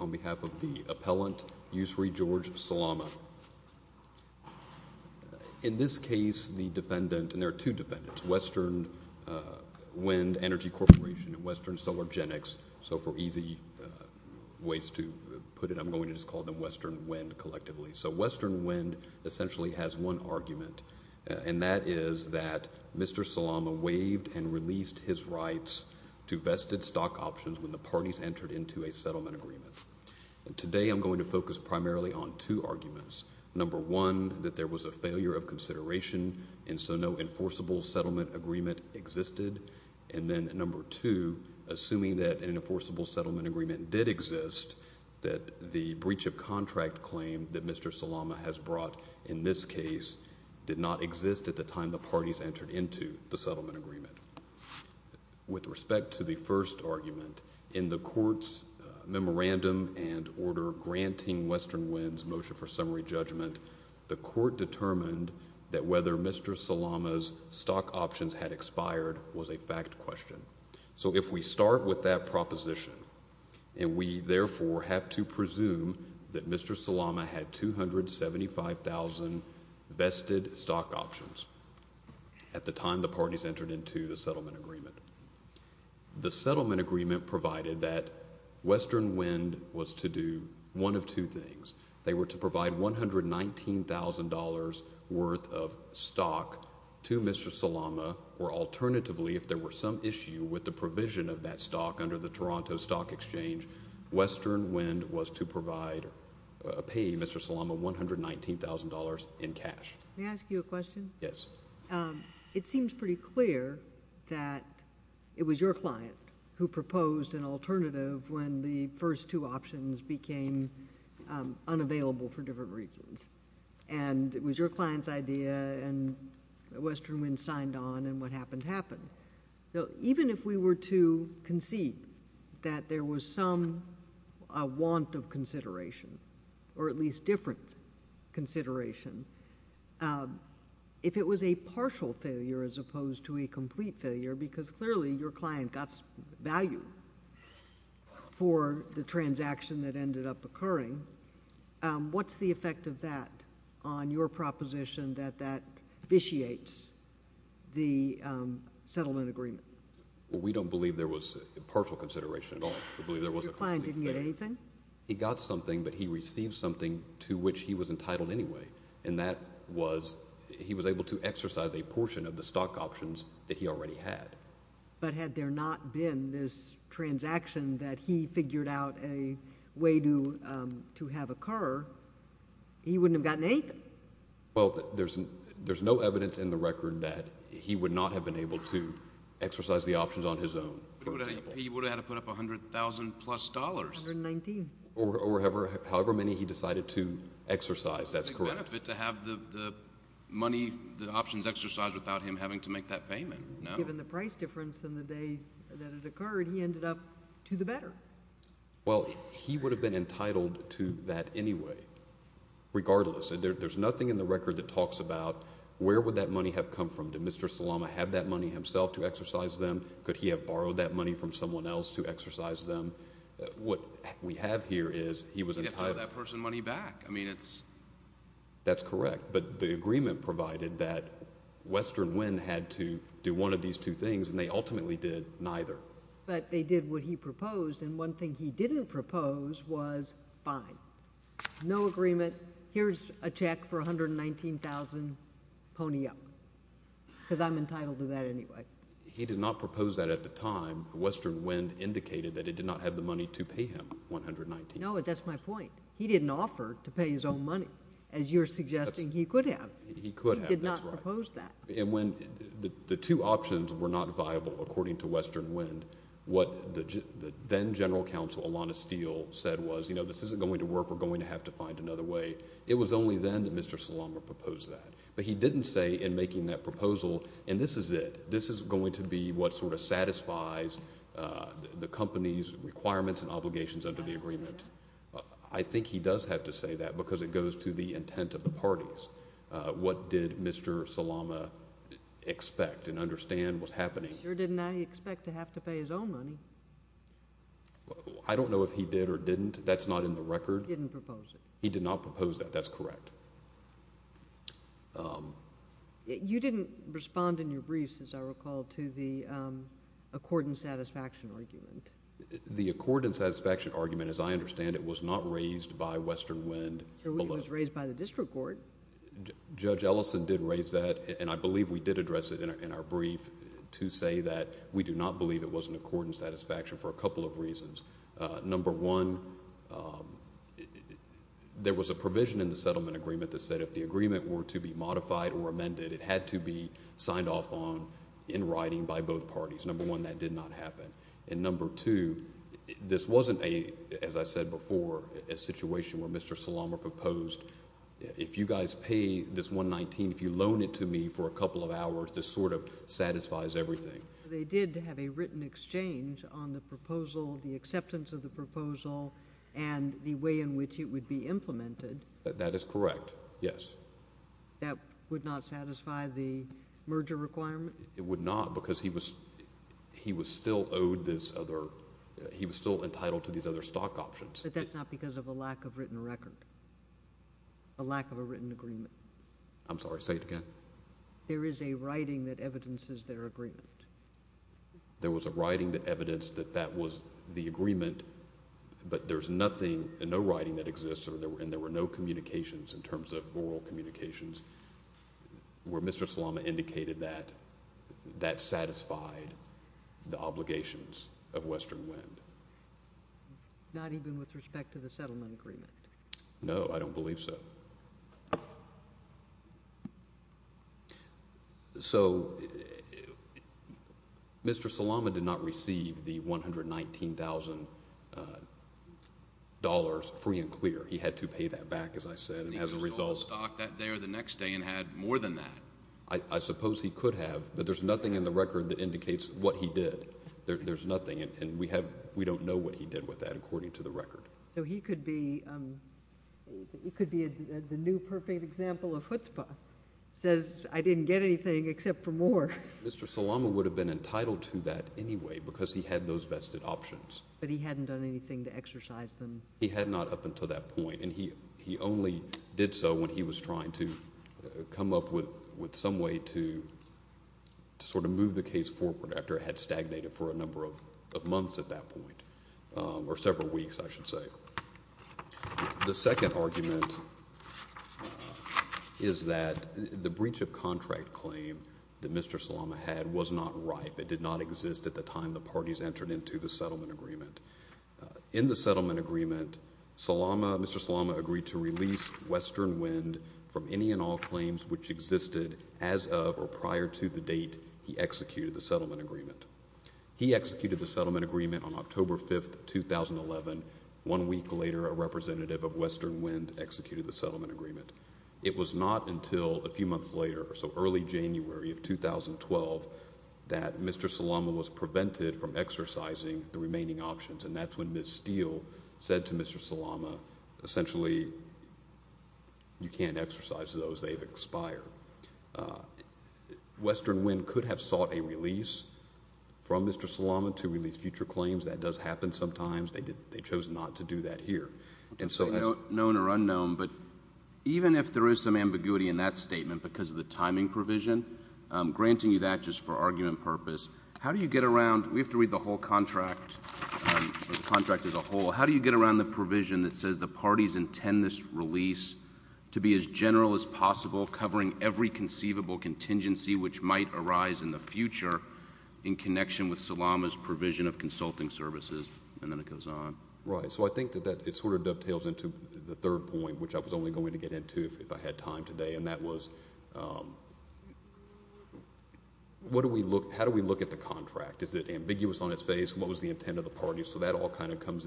on behalf of the appellant, Usri George Salama. In this case, the defendant, and there are two defendants, Western Wind Energy Corporation and Western Solargenics, so for easy ways to put it, I'm going to just call them Western Wind collectively. So Western Wind essentially has one argument, and that is that Mr. Salama waived and released his rights to vested stock options when the parties entered into a settlement agreement. Today I'm going to focus primarily on two arguments. Number one, that there was a failure of consideration, and so no enforceable settlement agreement existed. And then number two, assuming that an enforceable settlement agreement did exist, that the breach of contract claim that Mr. Salama has brought in this case did not exist at the time the parties entered into the settlement agreement. With respect to the first argument, in the court's memorandum and order granting Western Wind's motion for summary judgment, the court determined that whether Mr. Salama's stock options had expired was a fact question. So if we start with that proposition, and we therefore have to presume that Mr. Salama had 275,000 vested stock options at the time the parties entered into the settlement agreement, the settlement agreement provided that Western Wind was to do one of two things. They were to provide $119,000 worth of stock to Mr. Salama, or alternatively, if there were some issue with the provision of that stock under the Toronto Stock Exchange, Western Wind was to provide, pay Mr. Salama $119,000 in cash. May I ask you a question? Yes. It seems pretty clear that it was your client who proposed an alternative when the first two options became unavailable for different reasons. And it was your client's idea, and Western Wind signed on, and what happened happened. So even if we were to concede that there was some want of consideration, or at least different consideration, if it was a partial failure as opposed to a complete failure, because clearly your client got value for the transaction that ended up occurring, what's the effect of that on your proposition that that vitiates the settlement agreement? We don't believe there was partial consideration at all. We believe there was a complete failure. Your client didn't get anything? He got something, but he received something to which he was entitled anyway, and that was, he was able to exercise a portion of the stock options that he already had. But had there not been this transaction that he figured out a way to have occur, he wouldn't have gotten anything. Well, there's no evidence in the record that he would not have been able to exercise the options on his own, for example. He would have had to put up $100,000 plus. $119,000. Or however many he decided to exercise, that's correct. It would have been a big benefit to have the money, the options exercised without him having to make that payment, no? Given the price difference and the day that it occurred, he ended up to the better. Well, he would have been entitled to that anyway, regardless. There's nothing in the record that talks about where would that money have come from. Did Mr. Salama have that money himself to exercise them? Could he have borrowed that money from someone else to exercise them? What we have here is he was entitled. He had to give that person money back. I mean, it's... That's correct, but the agreement provided that Western Wind had to do one of these two things, and they ultimately did neither. But they did what he proposed, and one thing he didn't propose was, fine, no agreement, here's a check for $119,000, pony up, because I'm entitled to that anyway. He did not propose that at the time. Western Wind indicated that it did not have the money to pay him $119,000. No, that's my point. He didn't offer to pay his own money, as you're suggesting he could have. He could have, that's right. He did not propose that. And when the two options were not viable, according to Western Wind, what the then General Counsel, Alana Steele, said was, you know, this isn't going to work, we're going to have to find another way. It was only then that Mr. Salama proposed that. But he didn't say in making that proposal, and this is it, this is going to be what sort of satisfies the company's requirements and obligations under the agreement. I think he does have to say that because it goes to the intent of the parties. What did Mr. Salama expect and understand was happening? Sure didn't he expect to have to pay his own money? I don't know if he did or didn't. That's not in the record. He didn't propose it. He did not propose that. That's correct. You didn't respond in your briefs, as I recall, to the accord and satisfaction argument. The accord and satisfaction argument, as I understand it, was not raised by Western Wind. It was raised by the district court. Judge Ellison did raise that, and I believe we did address it in our brief to say that we do not believe it was an accord and satisfaction for a couple of reasons. Number one, there was a provision in the settlement agreement that said if the agreement were to be modified or amended, it had to be signed off on in writing by both parties. Number one, that did not happen. And number two, this wasn't, as I said before, a situation where Mr. Salama proposed, if you guys pay this $119,000, if you loan it to me for a couple of hours, this sort of satisfies everything. They did have a written exchange on the proposal, the acceptance of the proposal, and the way in which it would be implemented. That is correct, yes. That would not satisfy the merger requirement? It would not, because he was still owed this other, he was still entitled to these other stock options. But that's not because of a lack of written record, a lack of a written agreement. I'm sorry, say it again. There is a writing that evidences their agreement. There was a writing that evidenced that that was the agreement, but there's nothing, no writing that exists, and there were no communications in terms of oral communications where Mr. Salama indicated that that satisfied the obligations of Western Wind. Not even with respect to the settlement agreement? No, I don't believe so. So Mr. Salama did not receive the $119,000 free and clear. He had to pay that back, as I said, and as a result. He sold the stock that day or the next day and had more than that. I suppose he could have, but there's nothing in the record that indicates what he did. There's nothing, and we don't know what he did with that, according to the record. So he could be the new perfect example of chutzpah, says, I didn't get anything except for more. Mr. Salama would have been entitled to that anyway, because he had those vested options. But he hadn't done anything to exercise them. He had not up until that point, and he only did so when he was trying to come up with some way to sort of move the case forward after it had stagnated for a number of months at that point, or several weeks, I should say. The second argument is that the breach of contract claim that Mr. Salama had was not ripe. It did not exist at the time the parties entered into the settlement agreement. In the settlement agreement, Mr. Salama agreed to release Western Wind from any and all claims which existed as of or prior to the date he executed the settlement agreement. He executed the settlement agreement on October 5, 2011. One week later, a representative of Western Wind executed the settlement agreement. It was not until a few months later, so early January of 2012, that Mr. Salama was prevented from exercising the remaining options, and that's when Ms. Steele said to Mr. Salama, essentially, you can't exercise those, they've expired. Western Wind could have sought a release from Mr. Salama to release future claims. That does happen sometimes. They chose not to do that here. And so as— Known or unknown, but even if there is some ambiguity in that statement because of the We have to read the whole contract, the contract as a whole. How do you get around the provision that says the parties intend this release to be as general as possible, covering every conceivable contingency which might arise in the future in connection with Salama's provision of consulting services, and then it goes on. Right. So I think that it sort of dovetails into the third point, which I was only going to get into if I had time today, and that was what do we look—how do we look at the contract? Is it ambiguous on its face? What was the intent of the parties? So that all kind of comes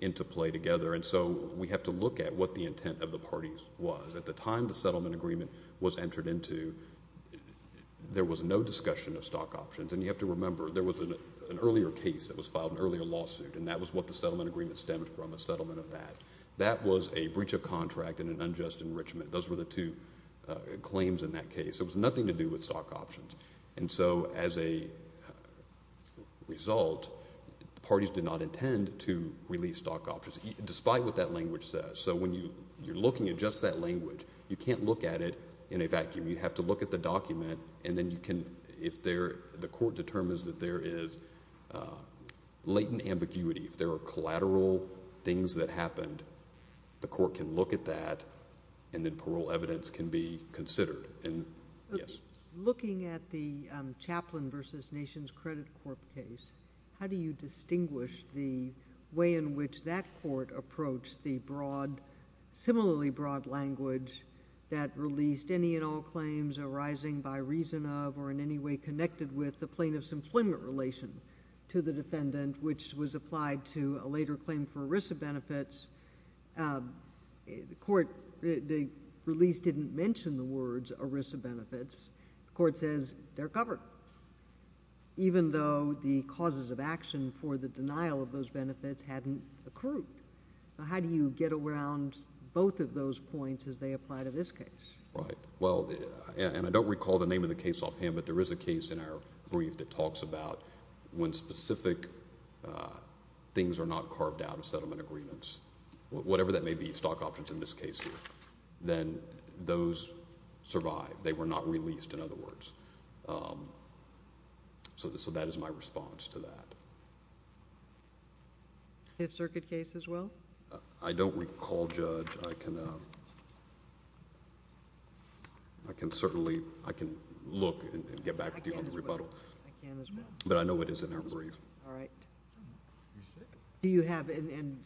into play together, and so we have to look at what the intent of the parties was. At the time the settlement agreement was entered into, there was no discussion of stock options, and you have to remember, there was an earlier case that was filed, an earlier lawsuit, and that was what the settlement agreement stemmed from, a settlement of that. That was a breach of contract and an unjust enrichment. Those were the two claims in that case. It was nothing to do with stock options. And so as a result, the parties did not intend to release stock options, despite what that language says. So when you're looking at just that language, you can't look at it in a vacuum. You have to look at the document, and then you can—if there—the court determines that there is latent ambiguity, if there are collateral things that happened, the court can look at that, and then parole evidence can be considered. Yes? Looking at the Chaplain v. Nations Credit Corp. case, how do you distinguish the way in which that court approached the broad, similarly broad language that released any and all claims arising by reason of, or in any way connected with, the plaintiff's employment relation to the defendant, which was applied to a later claim for ERISA benefits? The court—the release didn't mention the words ERISA benefits. The court says they're covered, even though the causes of action for the denial of those benefits hadn't accrued. So how do you get around both of those points as they apply to this case? Right. Well, and I don't recall the name of the case offhand, but there is a case in our brief that talks about when specific things are not carved out of settlement agreements, whatever that may be, stock options in this case here, then those survive. They were not released, in other words. So that is my response to that. If circuit case as well? I don't recall, Judge. I can certainly—I can look and get back with you on the rebuttal. I can as well. But I know it is in our brief. All right. Do you have, and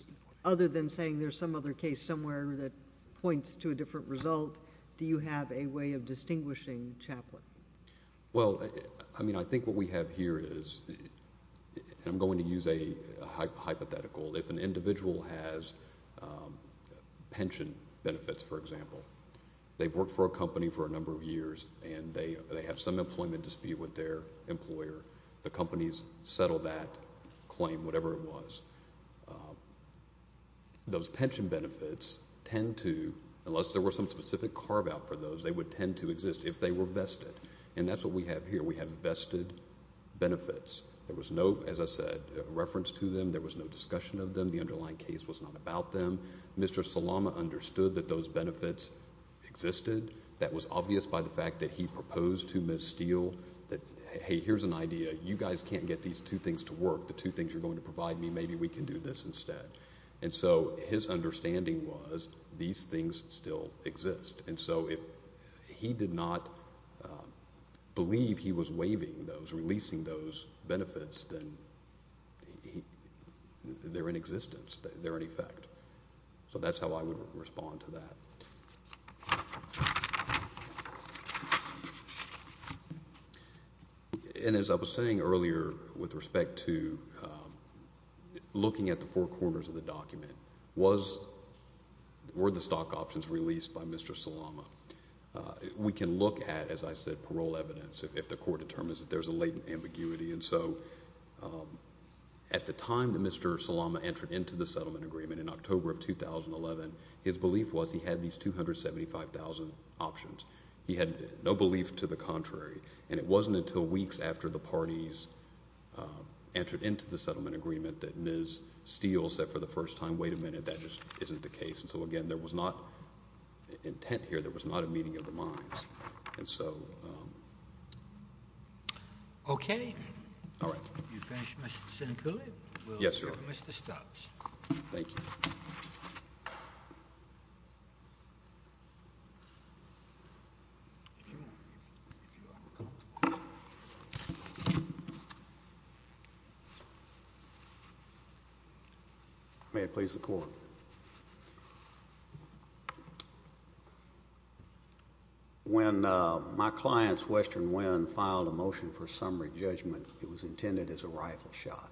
other than saying there's some other case somewhere that points to a different result, do you have a way of distinguishing Chaplain? Well, I mean, I think what we have here is, and I'm going to use a hypothetical, if an individual has pension benefits, for example, they've worked for a company for a number of years, and they have some employment dispute with their employer. The company's settled that claim, whatever it was. Those pension benefits tend to, unless there were some specific carve-out for those, they would tend to exist if they were vested. And that's what we have here. We have vested benefits. There was no, as I said, reference to them. There was no discussion of them. The underlying case was not about them. Mr. Salama understood that those benefits existed. That was obvious by the fact that he proposed to Ms. Steele that, hey, here's an idea. You guys can't get these two things to work. The two things you're going to provide me, maybe we can do this instead. And so his understanding was these things still exist. And so if he did not believe he was waiving those, releasing those benefits, then they're in existence. They're in effect. So that's how I would respond to that. And as I was saying earlier with respect to looking at the four corners of the document, were the stock options released by Mr. Salama? We can look at, as I said, parole evidence if the court determines that there's a latent ambiguity. And so at the time that Mr. Salama entered into the settlement agreement, in October of 2011, his belief was he had these 275,000 options. He had no belief to the contrary. And it wasn't until weeks after the parties entered into the settlement agreement that Ms. Steele said for the first time, wait a minute, that just isn't the case. And so again, there was not intent here. There was not a meeting of the minds. And so... Okay. All right. You finished, Mr. Sincouli? Yes, Your Honor. We'll go to Mr. Stubbs. Thank you. If you want, if you are uncomfortable. May it please the court. When my client's Western Wind filed a motion for summary judgment, it was intended as a rifle shot.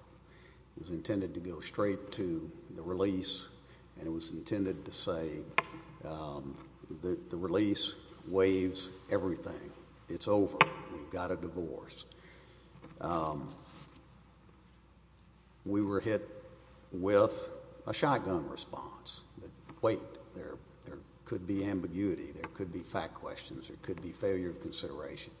It was intended to go straight to the release, and it was intended to say the release waives everything. It's over. We've got a divorce. We were hit with a shotgun response that, wait, there could be ambiguity, there could be fact questions, there could be failure of consideration.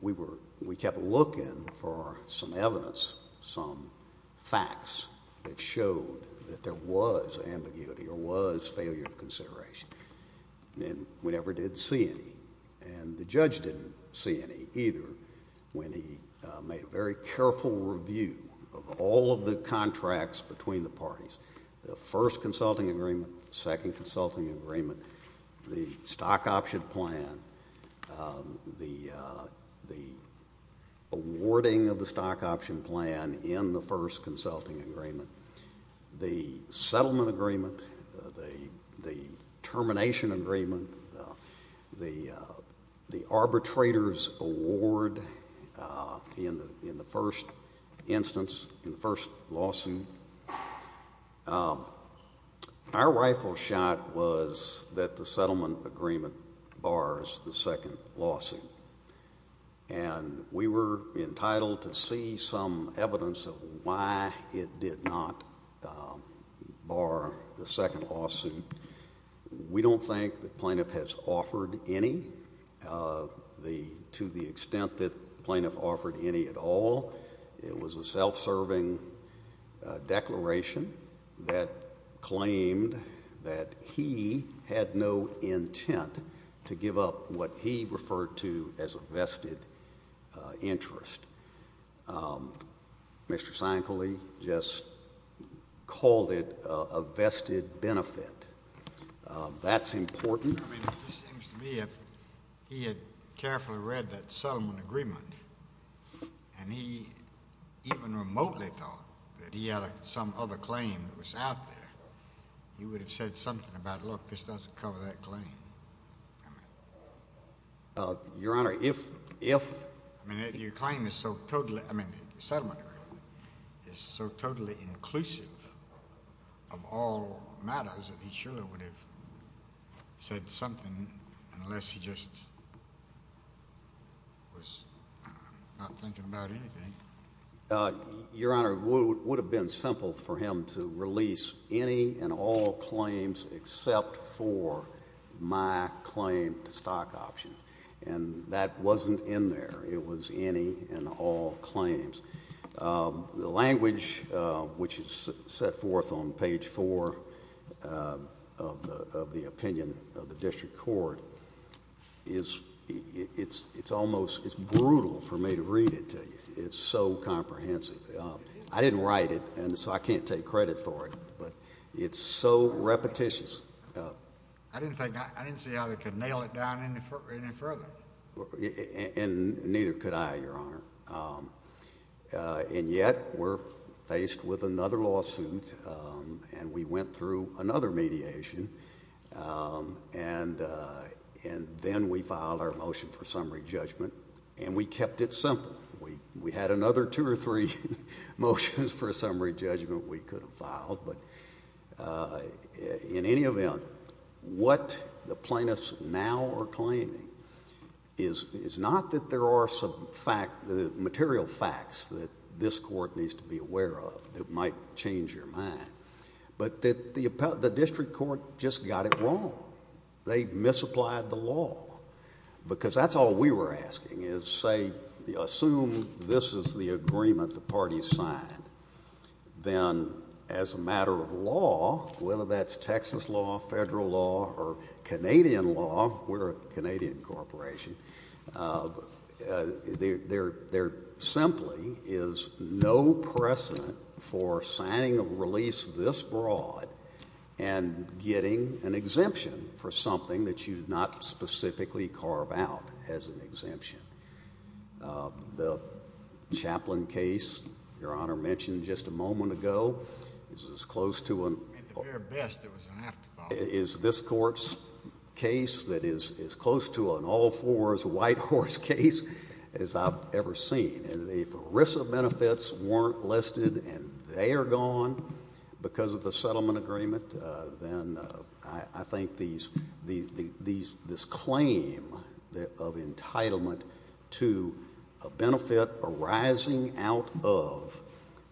We kept looking for some evidence, some facts that showed that there was ambiguity or was failure of consideration. And we never did see any. And the judge didn't see any either when he made a very careful review of all of the contracts between the parties, the first consulting agreement, second consulting agreement, the stock option plan, the awarding of the stock option plan in the first consulting agreement, the settlement agreement, the termination agreement, the arbitrator's award in the first instance, in the first lawsuit. Our rifle shot was that the settlement agreement bars the second lawsuit. And we were entitled to see some evidence of why it did not bar the second lawsuit. We don't think the plaintiff has offered any to the extent that the plaintiff offered any at all. It was a self-serving declaration that claimed that he had no intent to give up what he referred to as a vested interest. Mr. Sankole just called it a vested benefit. That's important. I mean, it just seems to me if he had carefully read that settlement agreement and he even remotely thought that he had some other claim that was out there, he would have said something about, look, this doesn't cover that claim. Your Honor, if... I mean, if your claim is so totally... I mean, the settlement agreement is so totally inclusive of all matters that he surely would have said something unless he just was not thinking about anything. Your Honor, it would have been simple for him to release any and all claims except for my claim to stock options. And that wasn't in there. It was any and all claims. The language, which is set forth on page four of the opinion of the district court, it's almost brutal for me to read it to you. It's so comprehensive. I didn't write it, and so I can't take credit for it, but it's so repetitious. I didn't think... I didn't see how they could nail it down any further. And neither could I, Your Honor. And yet we're faced with another lawsuit, and we went through another mediation, and then we filed our motion for summary judgment, and we kept it simple. We had another two or three motions for summary judgment we could have filed, but in any event, what the plaintiffs now are claiming is not that there are some material facts that this court needs to be aware of that might change your mind, but that the district court just got it wrong. They misapplied the law, because that's all we were asking is, say, assume this is the agreement the parties signed, then as a matter of law, whether that's Texas law, federal law, or Canadian law, we're a Canadian corporation, there simply is no precedent for signing a exemption for something that you did not specifically carve out as an exemption. The Chaplain case, Your Honor mentioned just a moment ago, is as close to an... At their best, it was an afterthought. Is this court's case that is as close to an all fours white horse case as I've ever seen. And if ERISA benefits weren't listed, and they are gone because of the settlement agreement, then I think this claim of entitlement to a benefit arising out of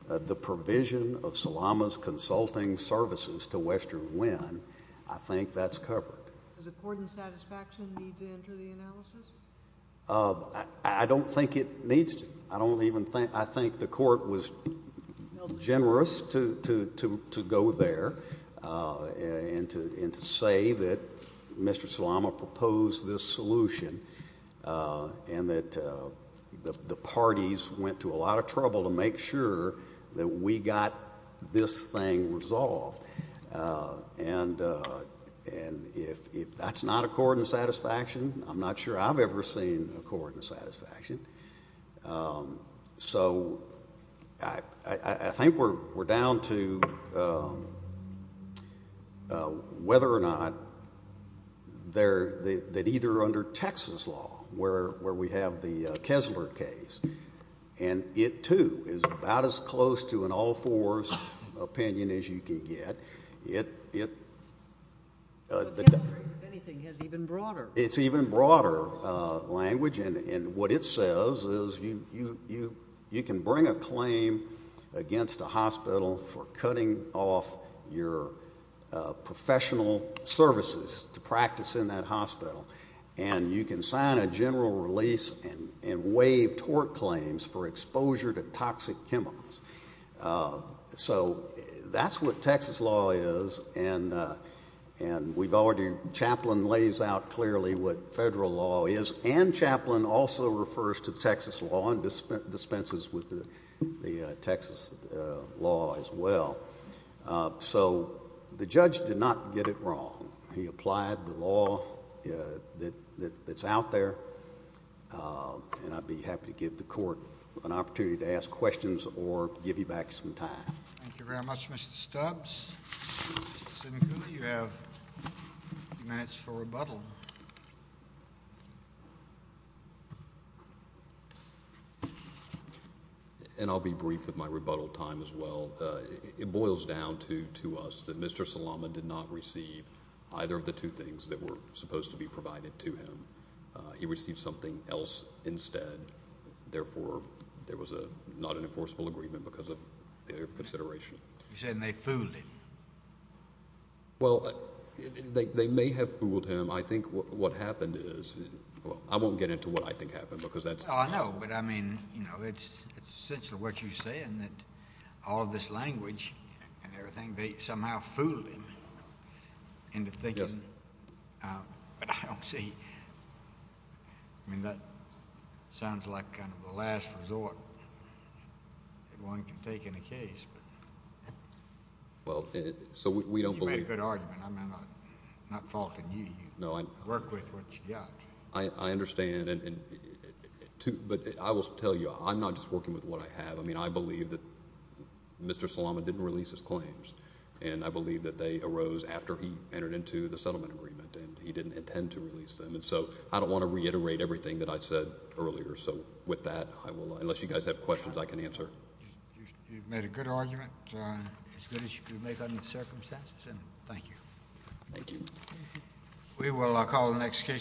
the provision of Salama's consulting services to Western Winn, I think that's covered. Does the court in satisfaction need to enter the analysis? I don't think it needs to. I think the court was generous to go there and to say that Mr. Salama proposed this solution and that the parties went to a lot of trouble to make sure that we got this thing resolved. And if that's not a court in satisfaction, I'm not sure I've ever seen a court in satisfaction. So I think we're down to whether or not that either under Texas law, where we have the Kessler case, and it too is about as close to an all fours opinion as you can get. It's even broader language, and what it says is you can bring a claim against a hospital for cutting off your professional services to practice in that hospital, and you can sign a general release and waive tort claims for exposure to toxic chemicals. So that's what Texas law is, and we've already, Chaplain lays out clearly what federal law is, and Chaplain also refers to Texas law and dispenses with the Texas law as well. So the judge did not get it wrong. He applied the law that's out there, and I'd be happy to give the court an opportunity to ask questions or give you back some time. Thank you very much, Mr. Stubbs. You have minutes for rebuttal. And I'll be brief with my rebuttal time as well. It boils down to us that Mr. Salama did not receive either of the two things that were supposed to be provided to him. He received something else instead. Therefore, there was not an enforceable agreement because of their consideration. You're saying they fooled him. Well, they may have fooled him. I think what happened is, well, I won't get into what I think happened because that's... I know, but I mean, it's essentially what you're saying, that all this language and everything, they somehow fooled him into thinking, but I don't see... I mean, that sounds like kind of the last resort that one can take in a case. Well, so we don't believe... You made a good argument. I'm not faulting you. You work with what you got. I understand, but I will tell you, I'm not just working with what I have. I mean, I believe that Mr. Salama didn't release his claims, and I believe that they arose after he entered into the settlement agreement, and he didn't intend to release them. And so I don't want to reiterate everything that I said earlier. So with that, I will... Unless you guys have questions, I can answer. You've made a good argument, as good as you could make under the circumstances. Thank you. Thank you. We will call the next case.